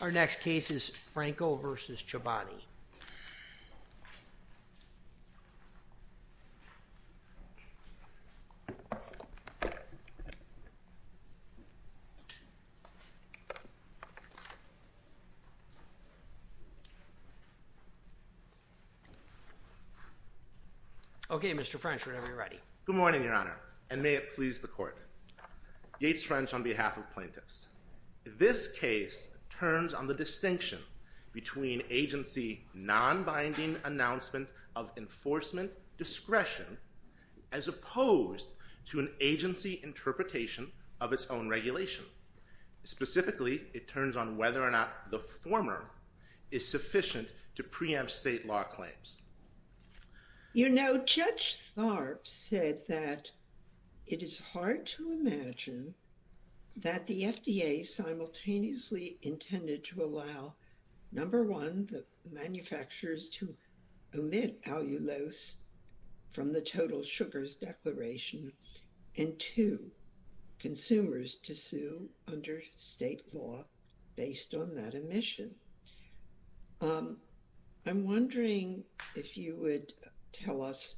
Our next case is Franco v. Chobani. Okay, Mr. French, whenever you're ready. Good morning, Your Honor, and may it please the Court. Yates French on behalf of plaintiffs. This case turns on the distinction between agency non-binding announcement of enforcement discretion as opposed to an agency interpretation of its own regulation. Specifically, it turns on whether or not the former is sufficient to preempt state law claims. You know, Judge Tharp said that it is hard to imagine that the FDA simultaneously intended to allow, number one, the manufacturers to omit allulose from the total sugars declaration, and two, consumers to sue under state law based on that omission. I'm wondering if you would tell us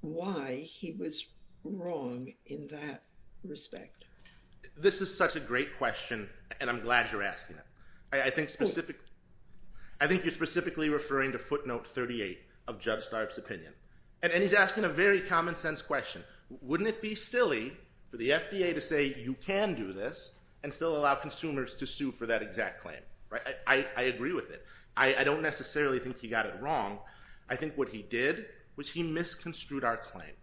why he was wrong in that respect. This is such a great question, and I'm glad you're asking it. I think you're specifically referring to footnote 38 of Judge Tharp's opinion. And he's asking a very common sense question. Wouldn't it be silly for the FDA to say you can do this and still allow consumers to sue for that exact claim? I agree with it. I don't necessarily think he got it wrong. I think what he did was he misconstrued our claim.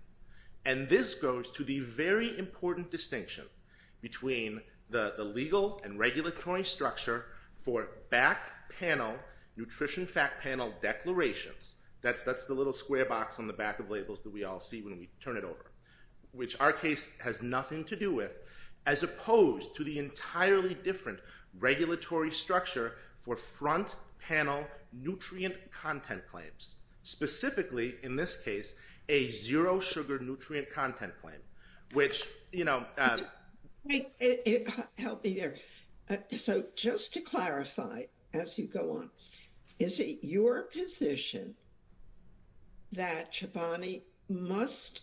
And this goes to the very important distinction between the legal and regulatory structure for back panel nutrition fact panel declarations. That's the little square box on the back of labels that we all see when we turn it over, which our case has nothing to do with, as opposed to the entirely different regulatory structure for front panel nutrient content claims. Specifically, in this case, a zero sugar nutrient content claim, which, you know... Help me there. So just to clarify, as you go on, is it your position that Chobani must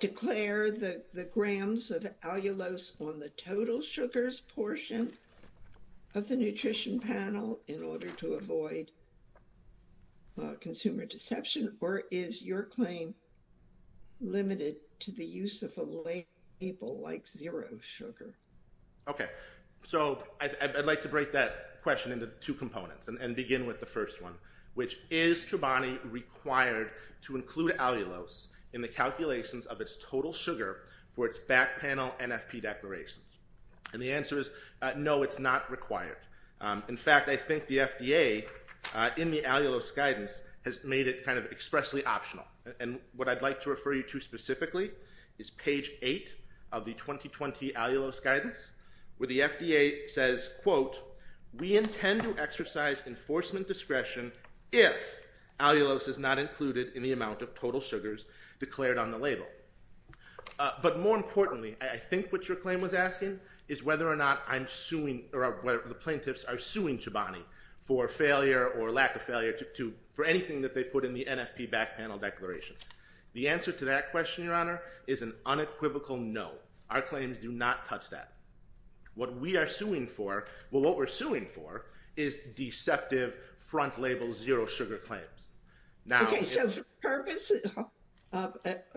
declare the grams of allulose on the total sugars portion of the nutrition panel in order to avoid consumer deception? Or is your claim limited to the use of a label like zero sugar? Okay. So I'd like to break that question into two components and begin with the first one, which is Chobani required to include allulose in the calculations of its total sugar for its back panel NFP declarations? And the answer is no, it's not required. In fact, I think the FDA, in the allulose guidance, has made it kind of expressly optional. And what I'd like to refer you to specifically is page 8 of the 2020 allulose guidance, where the FDA says, quote, we intend to exercise enforcement discretion if allulose is not included in the amount of total sugars declared on the label. But more importantly, I think what your claim was asking is whether or not the plaintiffs are suing Chobani for failure or lack of failure for anything that they put in the NFP back panel declaration. The answer to that question, Your Honor, is an unequivocal no. Our claims do not touch that. What we are suing for, well, what we're suing for is deceptive front label zero sugar claims.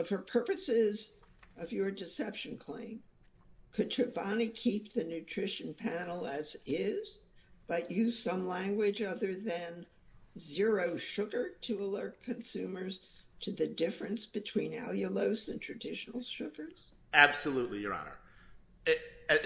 For purposes of your deception claim, could Chobani keep the nutrition panel as is, but use some language other than zero sugar to alert consumers to the difference between allulose and traditional sugars? Absolutely, Your Honor.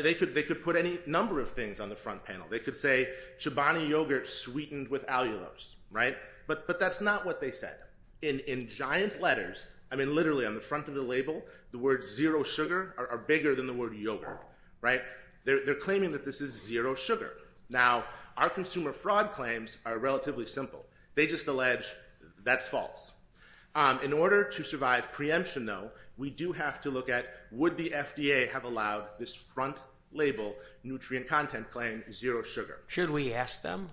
They could put any number of things on the front panel. They could say Chobani yogurt sweetened with allulose. Right? But that's not what they said. In giant letters, I mean, literally on the front of the label, the words zero sugar are bigger than the word yogurt. Right? They're claiming that this is zero sugar. Now, our consumer fraud claims are relatively simple. They just allege that's false. In order to survive preemption, though, we do have to look at would the FDA have allowed this front label nutrient content claim zero sugar? Should we ask them?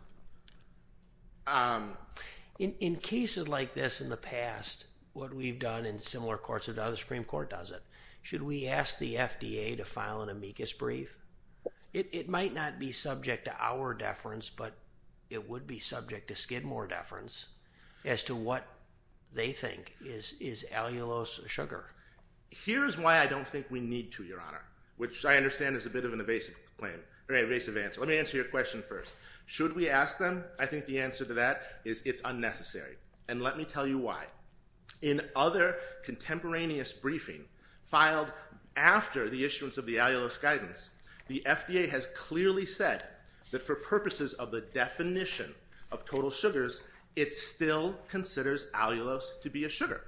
In cases like this in the past, what we've done in similar courts of the other Supreme Court does it. Should we ask the FDA to file an amicus brief? It might not be subject to our deference, but it would be subject to Skidmore deference as to what they think is allulose sugar. Here's why I don't think we need to, Your Honor, which I understand is a bit of an evasive claim or an evasive answer. Let me answer your question first. Should we ask them? I think the answer to that is it's unnecessary. And let me tell you why. In other contemporaneous briefing filed after the issuance of the allulose guidance, the FDA has clearly said that for purposes of the definition of total sugars, it still considers allulose to be a sugar.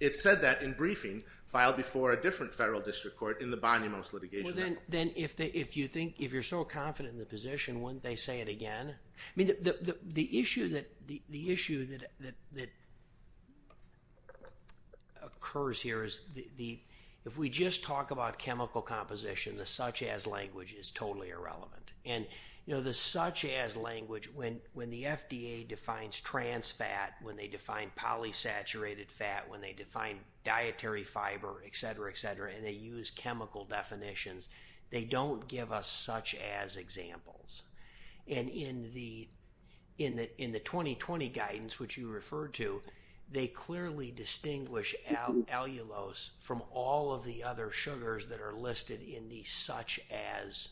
It said that in briefing filed before a different federal district court in the Bonnemousse litigation. If you're so confident in the position, wouldn't they say it again? The issue that occurs here is if we just talk about chemical composition, the such-as language is totally irrelevant. The such-as language, when the FDA defines trans fat, when they define polysaturated fat, when they define dietary fiber, etc., etc., and they use chemical definitions, they don't give us such-as examples. And in the 2020 guidance, which you referred to, they clearly distinguish allulose from all of the other sugars that are listed in the such-as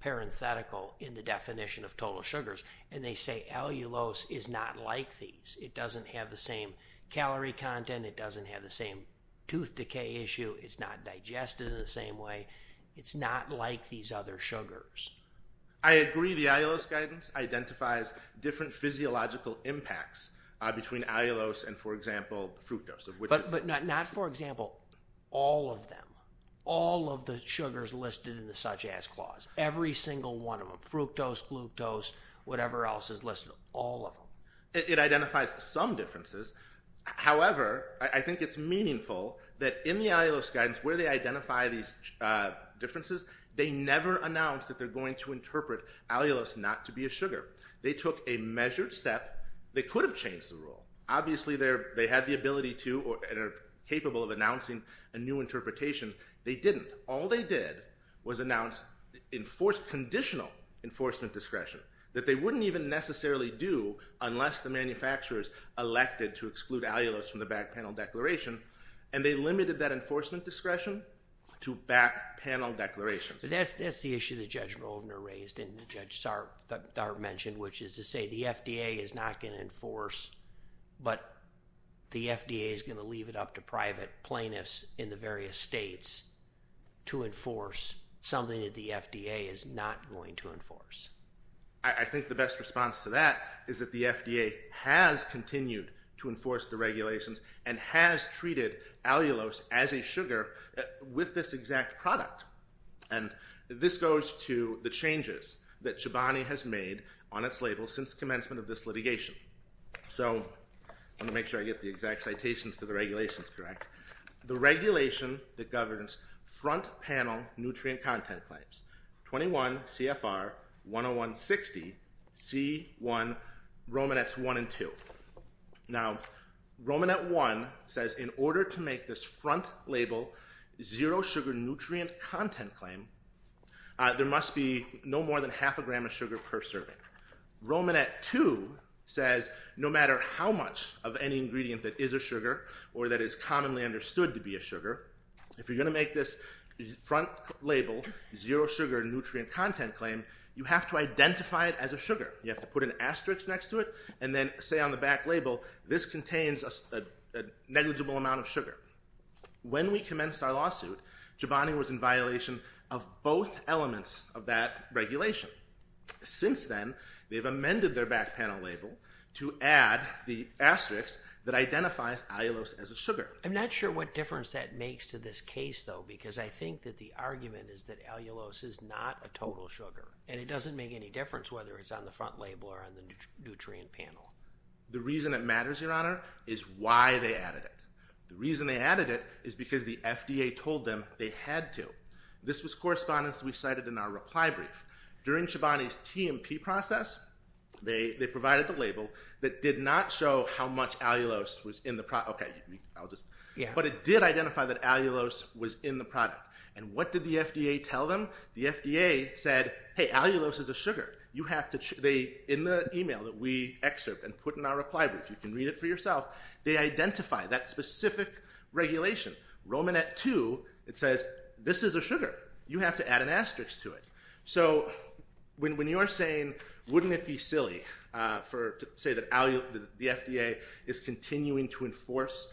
parenthetical in the definition of total sugars. And they say allulose is not like these. It doesn't have the same calorie content. It doesn't have the same tooth decay issue. It's not digested in the same way. It's not like these other sugars. I agree. The allulose guidance identifies different physiological impacts between allulose and, for example, fructose. But not, for example, all of them. All of the sugars listed in the such-as clause. Every single one of them. Fructose, glucose, whatever else is listed. All of them. It identifies some differences. However, I think it's meaningful that in the allulose guidance, where they identify these differences, they never announce that they're going to interpret allulose not to be a sugar. They took a measured step. They could have changed the rule. Obviously, they had the ability to and are capable of announcing a new interpretation. They didn't. All they did was announce conditional enforcement discretion that they wouldn't even necessarily do unless the manufacturers elected to exclude allulose from the back panel declaration. And they limited that enforcement discretion to back panel declarations. That's the issue that Judge Rovner raised and Judge Tharp mentioned, which is to say the FDA is not going to enforce, but the FDA is going to leave it up to private plaintiffs in the various states to enforce something that the FDA is not going to enforce. I think the best response to that is that the FDA has continued to enforce the regulations and has treated allulose as a sugar with this exact product. And this goes to the changes that Chobani has made on its label since commencement of this litigation. So, let me make sure I get the exact citations to the regulations correct. The regulation that governs front panel nutrient content claims, 21 CFR 10160, C1, Romanets 1 and 2. Now, Romanet 1 says in order to make this front label zero sugar nutrient content claim, there must be no more than half a gram of sugar per serving. Romanet 2 says no matter how much of any ingredient that is a sugar or that is commonly understood to be a sugar, if you're going to make this front label zero sugar nutrient content claim, you have to identify it as a sugar. You have to put an asterisk next to it and then say on the back label, this contains a negligible amount of sugar. When we commenced our lawsuit, Chobani was in violation of both elements of that regulation. Since then, they've amended their back panel label to add the asterisk that identifies allulose as a sugar. I'm not sure what difference that makes to this case, though, because I think that the argument is that allulose is not a total sugar and it doesn't make any difference whether it's on the front label or on the nutrient panel. The reason it matters, Your Honor, is why they added it. The reason they added it is because the FDA told them they had to. This was correspondence we cited in our reply brief. During Chobani's TMP process, they provided the label that did not show how much allulose was in the product. But it did identify that allulose was in the product. And what did the FDA tell them? The FDA said, hey, allulose is a sugar. In the email that we excerpt and put in our reply brief, you can read it for yourself, they identify that specific regulation. Romanet 2, it says, this is a sugar. You have to add an asterisk to it. So when you're saying, wouldn't it be silly to say that the FDA is continuing to enforce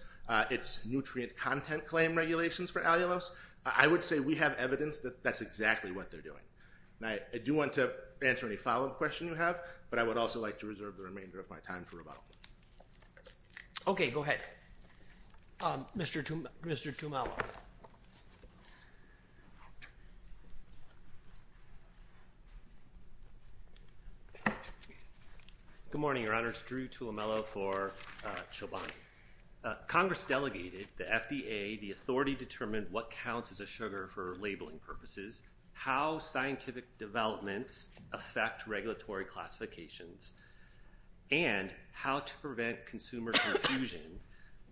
its nutrient content claim regulations for allulose, I would say we have evidence that that's exactly what they're doing. I do want to answer any follow-up questions you have, but I would also like to reserve the remainder of my time for rebuttal. Okay, go ahead. Mr. Tumelo. Good morning, Your Honors. Drew Tumelo for Chobani. Congress delegated to FDA the authority to determine what counts as a sugar for labeling purposes, how scientific developments affect regulatory classifications, and how to prevent consumer confusion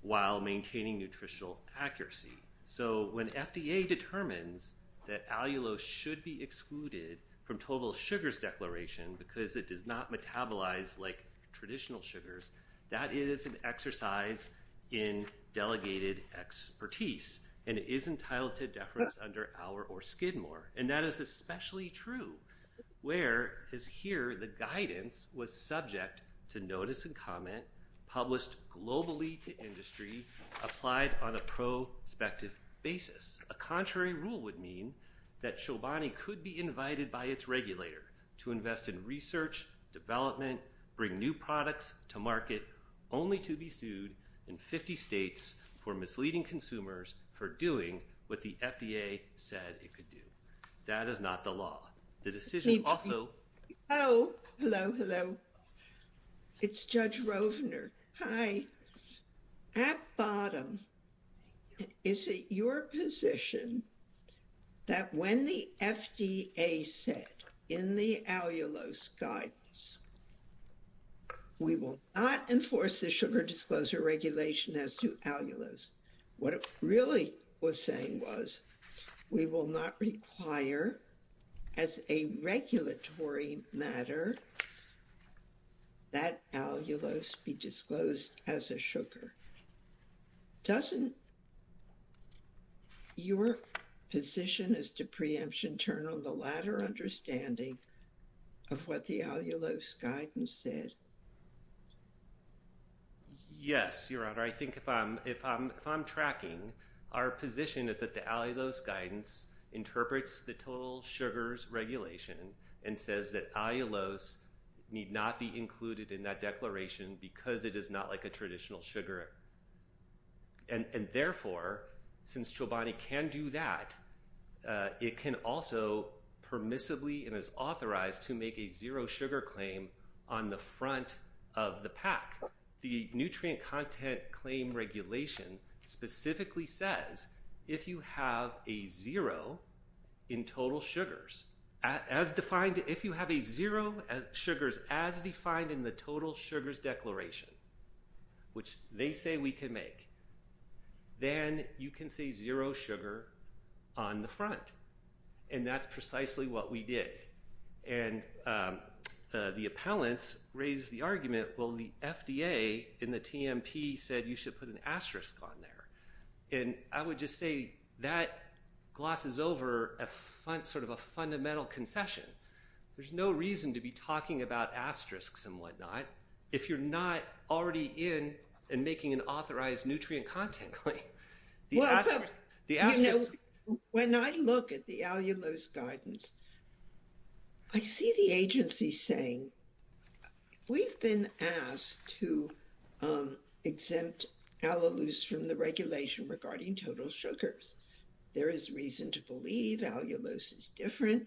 while maintaining nutritional accuracy. So when FDA determines that allulose should be excluded from total sugars declaration because it does not metabolize like traditional sugars, that is an exercise in delegated expertise, and it is entitled to deference under Auer or Skidmore. And that is especially true where, as here, the guidance was subject to notice and comment, published globally to industry, applied on a prospective basis. A contrary rule would mean that Chobani could be invited by its regulator to invest in research, development, bring new products to market, only to be sued in 50 states for misleading consumers for doing what the FDA said it could do. That is not the law. The decision also... Oh, hello, hello. It's Judge Rovner. At bottom, is it your position that when the FDA said in the allulose guidance, we will not enforce the sugar disclosure regulation as to allulose, what it really was saying was we will not require, as a regulatory matter, that allulose be disclosed as a sugar? Doesn't your position as to preemption turn on the latter understanding of what the allulose guidance said? Yes, Your Honor. I think if I'm tracking, our position is that the allulose guidance interprets the total sugars regulation and says that allulose need not be included in that declaration because it is not like a traditional sugar. And therefore, since Chobani can do that, it can also permissibly and is authorized to make a zero sugar claim on the front of the pack. The nutrient content claim regulation specifically says if you have a zero in total sugars, as defined... If you have a zero sugars as defined in the total sugars declaration, which they say we can make, then you can say zero sugar on the front. And that's precisely what we did. And the appellants raised the argument, well, the FDA and the TMP said you should put an asterisk on there. And I would just say that glosses over sort of a fundamental concession. There's no reason to be talking about asterisks and whatnot if you're not already in and making an authorized nutrient content claim. When I look at the allulose guidance, I see the agency saying we've been asked to exempt allulose from the regulation regarding total sugars. There is reason to believe allulose is different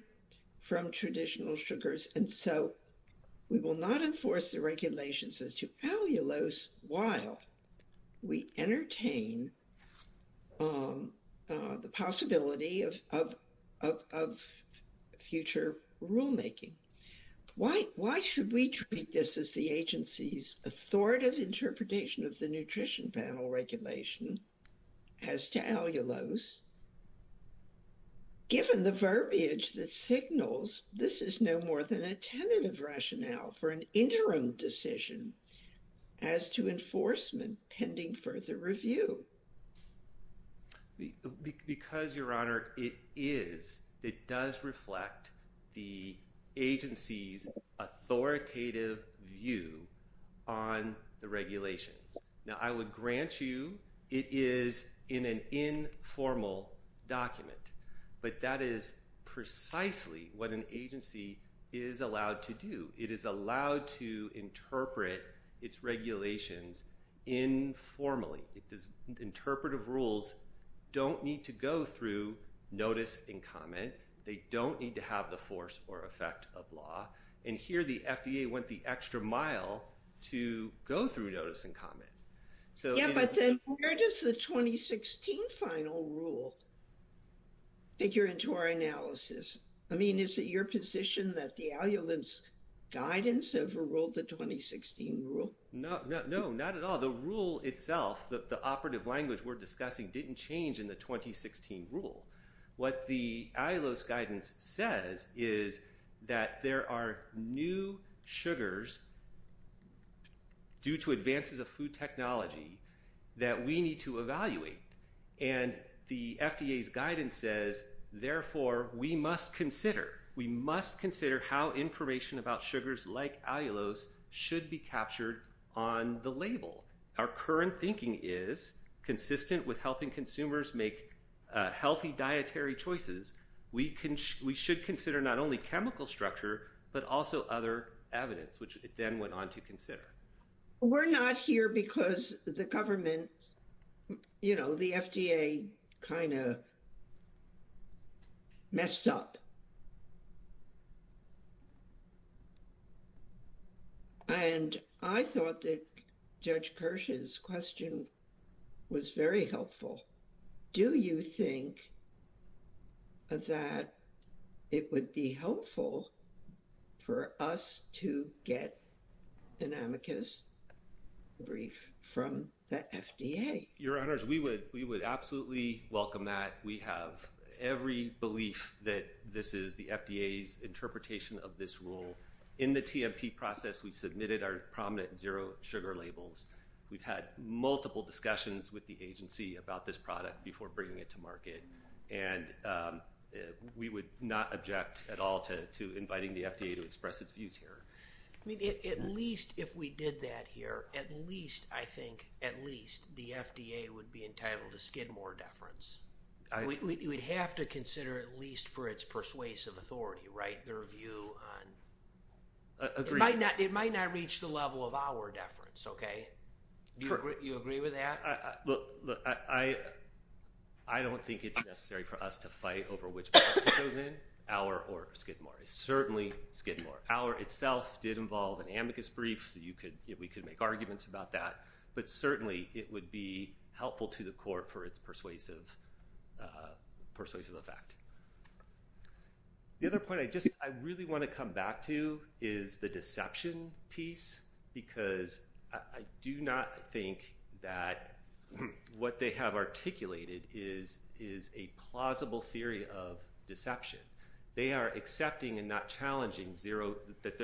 from traditional sugars. And so we will not enforce the regulations as to allulose while we entertain the possibility of future rulemaking. Why should we treat this as the agency's authoritative interpretation of the nutrition panel regulation as to allulose, given the verbiage that signals this is no more than a tentative rationale for an interim decision as to enforcement pending further review? Because, Your Honor, it is. It does reflect the agency's authoritative view on the regulations. Now, I would grant you it is in an informal document. But that is precisely what an agency is allowed to do. It is allowed to interpret its regulations informally. Interpretive rules don't need to go through notice and comment. They don't need to have the force or effect of law. And here the FDA went the extra mile to go through notice and comment. Yeah, but then where does the 2016 final rule figure into our analysis? I mean, is it your position that the allulose guidance overruled the 2016 rule? No, not at all. The rule itself, the operative language we're discussing, didn't change in the 2016 rule. What the allulose guidance says is that there are new sugars due to advances of food technology that we need to evaluate. And the FDA's guidance says, therefore, we must consider. We must consider how information about sugars like allulose should be captured on the label. Our current thinking is consistent with helping consumers make healthy dietary choices. We should consider not only chemical structure, but also other evidence, which it then went on to consider. We're not here because the government, you know, the FDA kind of messed up. And I thought that Judge Kirsch's question was very helpful. Do you think that it would be helpful for us to get an amicus brief from the FDA? Your Honors, we would absolutely welcome that. We have every belief that this is the FDA's interpretation of this rule. In the TMP process, we submitted our prominent zero sugar labels. We've had multiple discussions with the agency about this product before bringing it to market. And we would not object at all to inviting the FDA to express its views here. I mean, at least if we did that here, at least, I think, at least, the FDA would be entitled to skid more deference. We'd have to consider at least for its persuasive authority, right, their view on... Agreed. It might not reach the level of our deference, okay? Do you agree with that? Look, I don't think it's necessary for us to fight over which process it goes in, our or skid more. It's certainly skid more. Our itself did involve an amicus brief, so we could make arguments about that. But certainly, it would be helpful to the court for its persuasive effect. The other point I just, I really want to come back to is the deception piece, because I do not think that what they have articulated is a plausible theory of deception. They are accepting and not challenging zero, that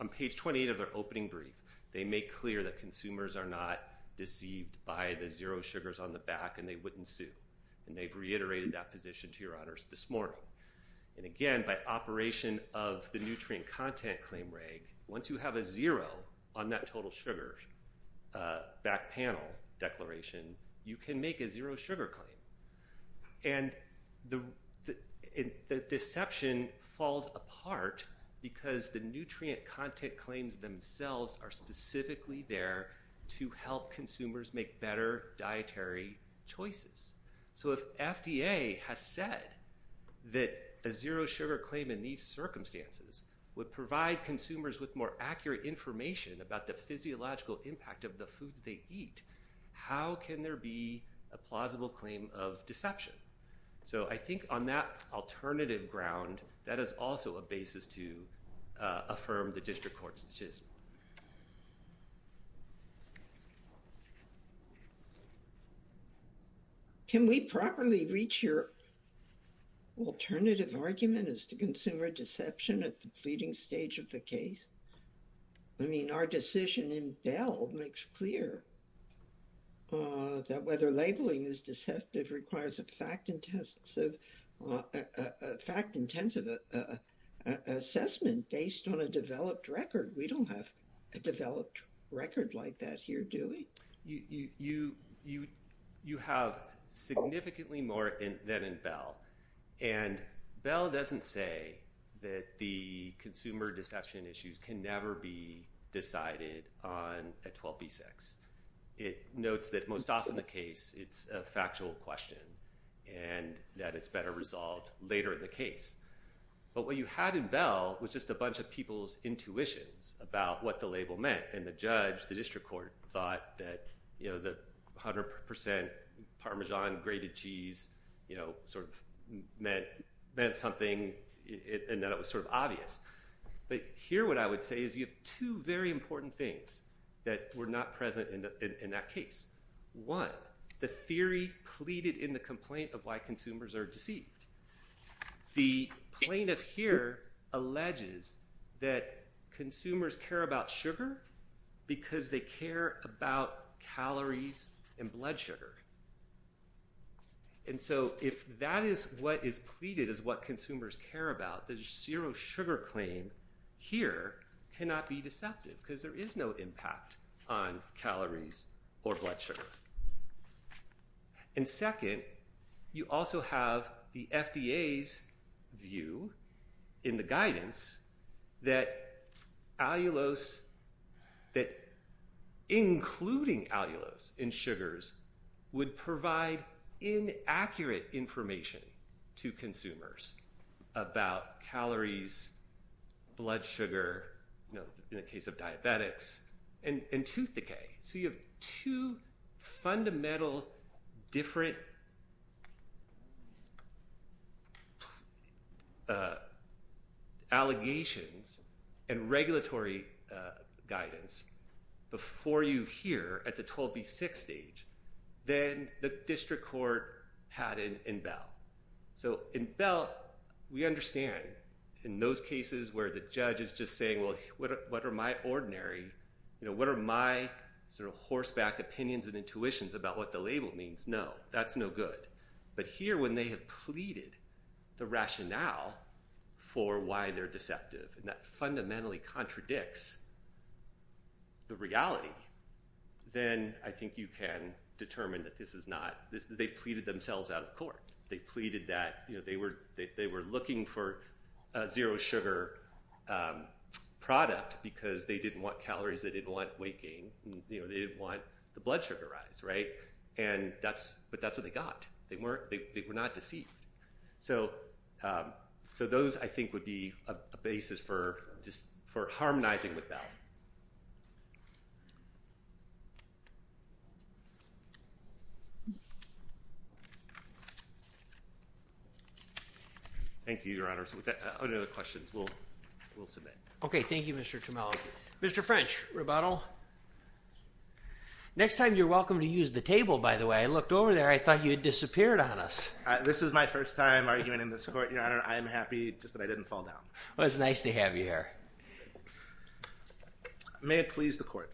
on page 28 of their opening brief, they make clear that consumers are not deceived by the zero sugars on the back and they wouldn't sue. And they've reiterated that position to your honors this morning. And again, by operation of the nutrient content claim reg, once you have a zero on that total sugar back panel declaration, you can make a zero sugar claim. And the deception falls apart because the nutrient content claims themselves are specifically there to help consumers make better dietary choices. So if FDA has said that a zero sugar claim in these circumstances would provide consumers with more accurate information about the physiological impact of the foods they eat, how can there be a plausible claim of deception? So I think on that alternative ground, that is also a basis to affirm the district court's decision. Can we properly reach your alternative argument as to consumer deception at the pleading stage of the case? I mean, our decision in Bell makes clear that whether labeling is deceptive requires a fact-intensive assessment based on a developed record. We don't have a developed record like that here, do we? You have significantly more than in Bell. And Bell doesn't say that the consumer deception issues can never be decided on a 12b6. It notes that most often the case, it's a factual question and that it's better resolved later in the case. But what you had in Bell was just a bunch of people's intuitions about what the label meant. And the judge, the district court, thought that 100% Parmesan grated cheese sort of meant something and that it was sort of obvious. But here what I would say is you have two very important things that were not present in that case. One, the theory pleaded in the complaint of why consumers are deceived. The plaintiff here alleges that consumers care about sugar because they care about calories and blood sugar. And so if that is what is pleaded as what consumers care about, the zero sugar claim here cannot be deceptive because there is no impact on calories or blood sugar. And second, you also have the FDA's view in the guidance that including allulose in sugars would provide inaccurate information to consumers about calories, blood sugar, in the case of diabetics, and tooth decay. So you have two fundamental different allegations and regulatory guidance before you here at the 12B6 stage than the district court had in Bell. So in Bell, we understand in those cases where the judge is just saying, well, what are my ordinary, you know, what are my sort of horseback opinions and intuitions about what the label means? No, that's no good. But here when they have pleaded the rationale for why they're deceptive and that fundamentally contradicts the reality, then I think you can determine that this is not – they pleaded themselves out of court. They pleaded that, you know, they were looking for a zero sugar product because they didn't want calories, they didn't want weight gain, you know, they didn't want the blood sugar rise, right? And that's – but that's what they got. They weren't – they were not deceived. So those, I think, would be a basis for just – for harmonizing with Bell. Thank you, Your Honor. So with that, are there other questions we'll submit? Okay. Thank you, Mr. Tomello. Mr. French, rebuttal. Next time you're welcome to use the table, by the way. I looked over there. I thought you had disappeared on us. This is my first time arguing in this court, Your Honor. I am happy just that I didn't fall down. Well, it's nice to have you here. May it please the court.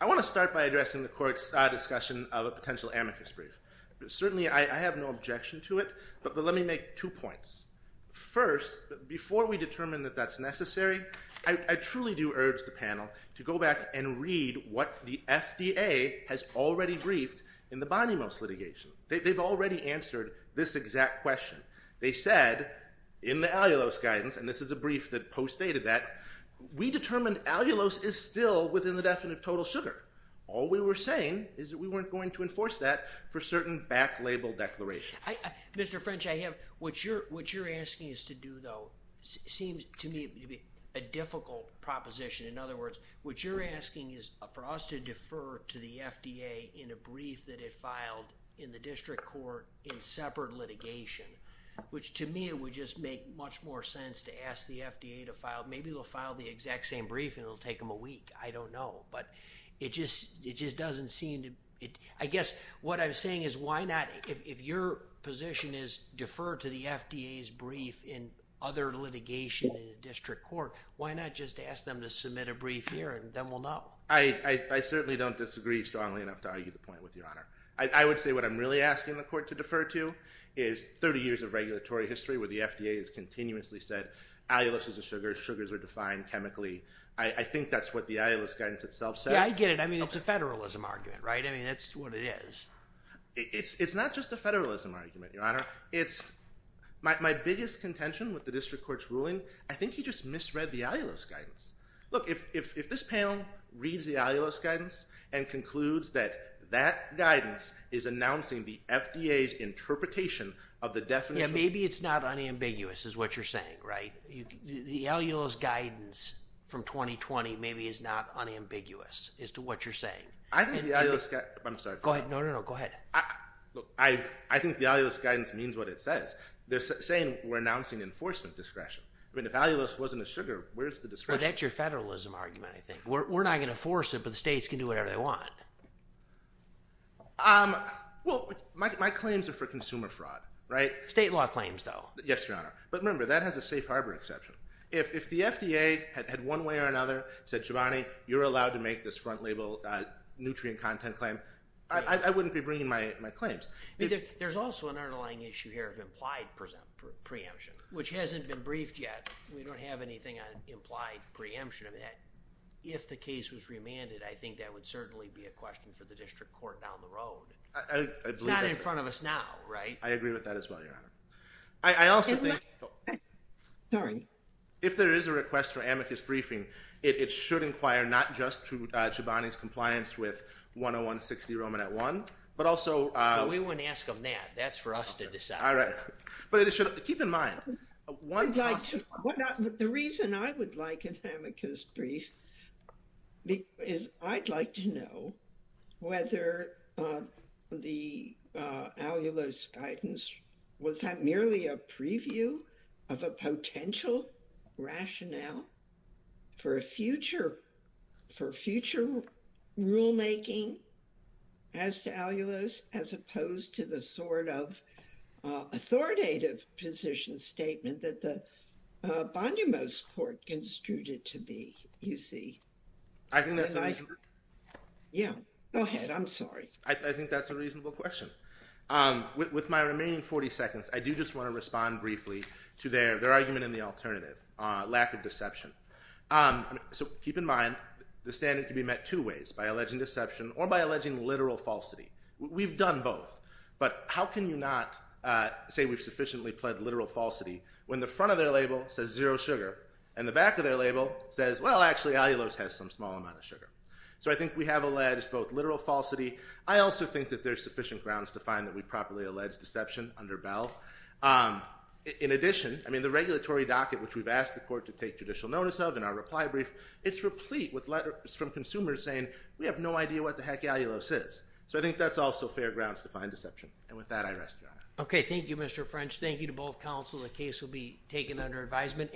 I want to start by addressing the court's discussion of a potential amicus brief. Certainly, I have no objection to it, but let me make two points. First, before we determine that that's necessary, I truly do urge the panel to go back and read what the FDA has already briefed in the Bonnymouse litigation. They've already answered this exact question. They said in the allulose guidance – and this is a brief that postdated that – we determined allulose is still within the definitive total sugar. All we were saying is that we weren't going to enforce that for certain back-label declarations. Mr. French, I have – what you're asking us to do, though, seems to me to be a difficult proposition. In other words, what you're asking is for us to defer to the FDA in a brief that it filed in the district court in separate litigation, which to me would just make much more sense to ask the FDA to file – maybe they'll file the exact same brief and it'll take them a week. I don't know, but it just doesn't seem to – I guess what I'm saying is why not – if your position is defer to the FDA's brief in other litigation in a district court, why not just ask them to submit a brief here and then we'll know? I certainly don't disagree strongly enough to argue the point with Your Honor. I would say what I'm really asking the court to defer to is 30 years of regulatory history where the FDA has continuously said allulose is a sugar, sugars are defined chemically. I think that's what the allulose guidance itself says. Yeah, I get it. I mean, it's a federalism argument, right? I mean, that's what it is. It's not just a federalism argument, Your Honor. My biggest contention with the district court's ruling, I think he just misread the allulose guidance. Look, if this panel reads the allulose guidance and concludes that that guidance is announcing the FDA's interpretation of the definition – Yeah, maybe it's not unambiguous is what you're saying, right? The allulose guidance from 2020 maybe is not unambiguous as to what you're saying. Go ahead. No, no, no. Go ahead. Look, I think the allulose guidance means what it says. They're saying we're announcing enforcement discretion. I mean, if allulose wasn't a sugar, where's the discretion? Well, that's your federalism argument, I think. We're not going to force it, but the states can do whatever they want. Well, my claims are for consumer fraud, right? State law claims, though. Yes, Your Honor. But remember, that has a safe harbor exception. If the FDA had one way or another said, Shabani, you're allowed to make this front label nutrient content claim, I wouldn't be bringing my claims. There's also an underlying issue here of implied preemption, which hasn't been briefed yet. We don't have anything on implied preemption of that. If the case was remanded, I think that would certainly be a question for the district court down the road. It's not in front of us now, right? I agree with that as well, Your Honor. Sorry. If there is a request for amicus briefing, it should inquire not just to Shabani's compliance with 10160 Romanet 1, but also... We wouldn't ask them that. That's for us to decide. All right. But keep in mind, one possible... The reason I would like an amicus brief is I'd like to know whether the Alulos guidance, was that merely a preview of a potential rationale for future rulemaking as to Alulos, as opposed to the sort of authoritative position statement that the Bondemos Court construed it to be, you see. I think that's an issue. Yeah. Go ahead. I'm sorry. I think that's a reasonable question. With my remaining 40 seconds, I do just want to respond briefly to their argument in the alternative, lack of deception. So keep in mind, the standard can be met two ways, by alleging deception or by alleging literal falsity. We've done both. But how can you not say we've sufficiently pled literal falsity when the front of their label says zero sugar and the back of their label says, well, actually, Alulos has some small amount of sugar. So I think we have alleged both literal falsity. I also think that there's sufficient grounds to find that we properly allege deception under Bell. In addition, I mean, the regulatory docket, which we've asked the court to take judicial notice of in our reply brief, it's replete with letters from consumers saying, we have no idea what the heck Alulos is. So I think that's also fair grounds to find deception. And with that, I rest your honor. Okay. Thank you, Mr. French. Thank you to both counsel. The case will be taken under advisement.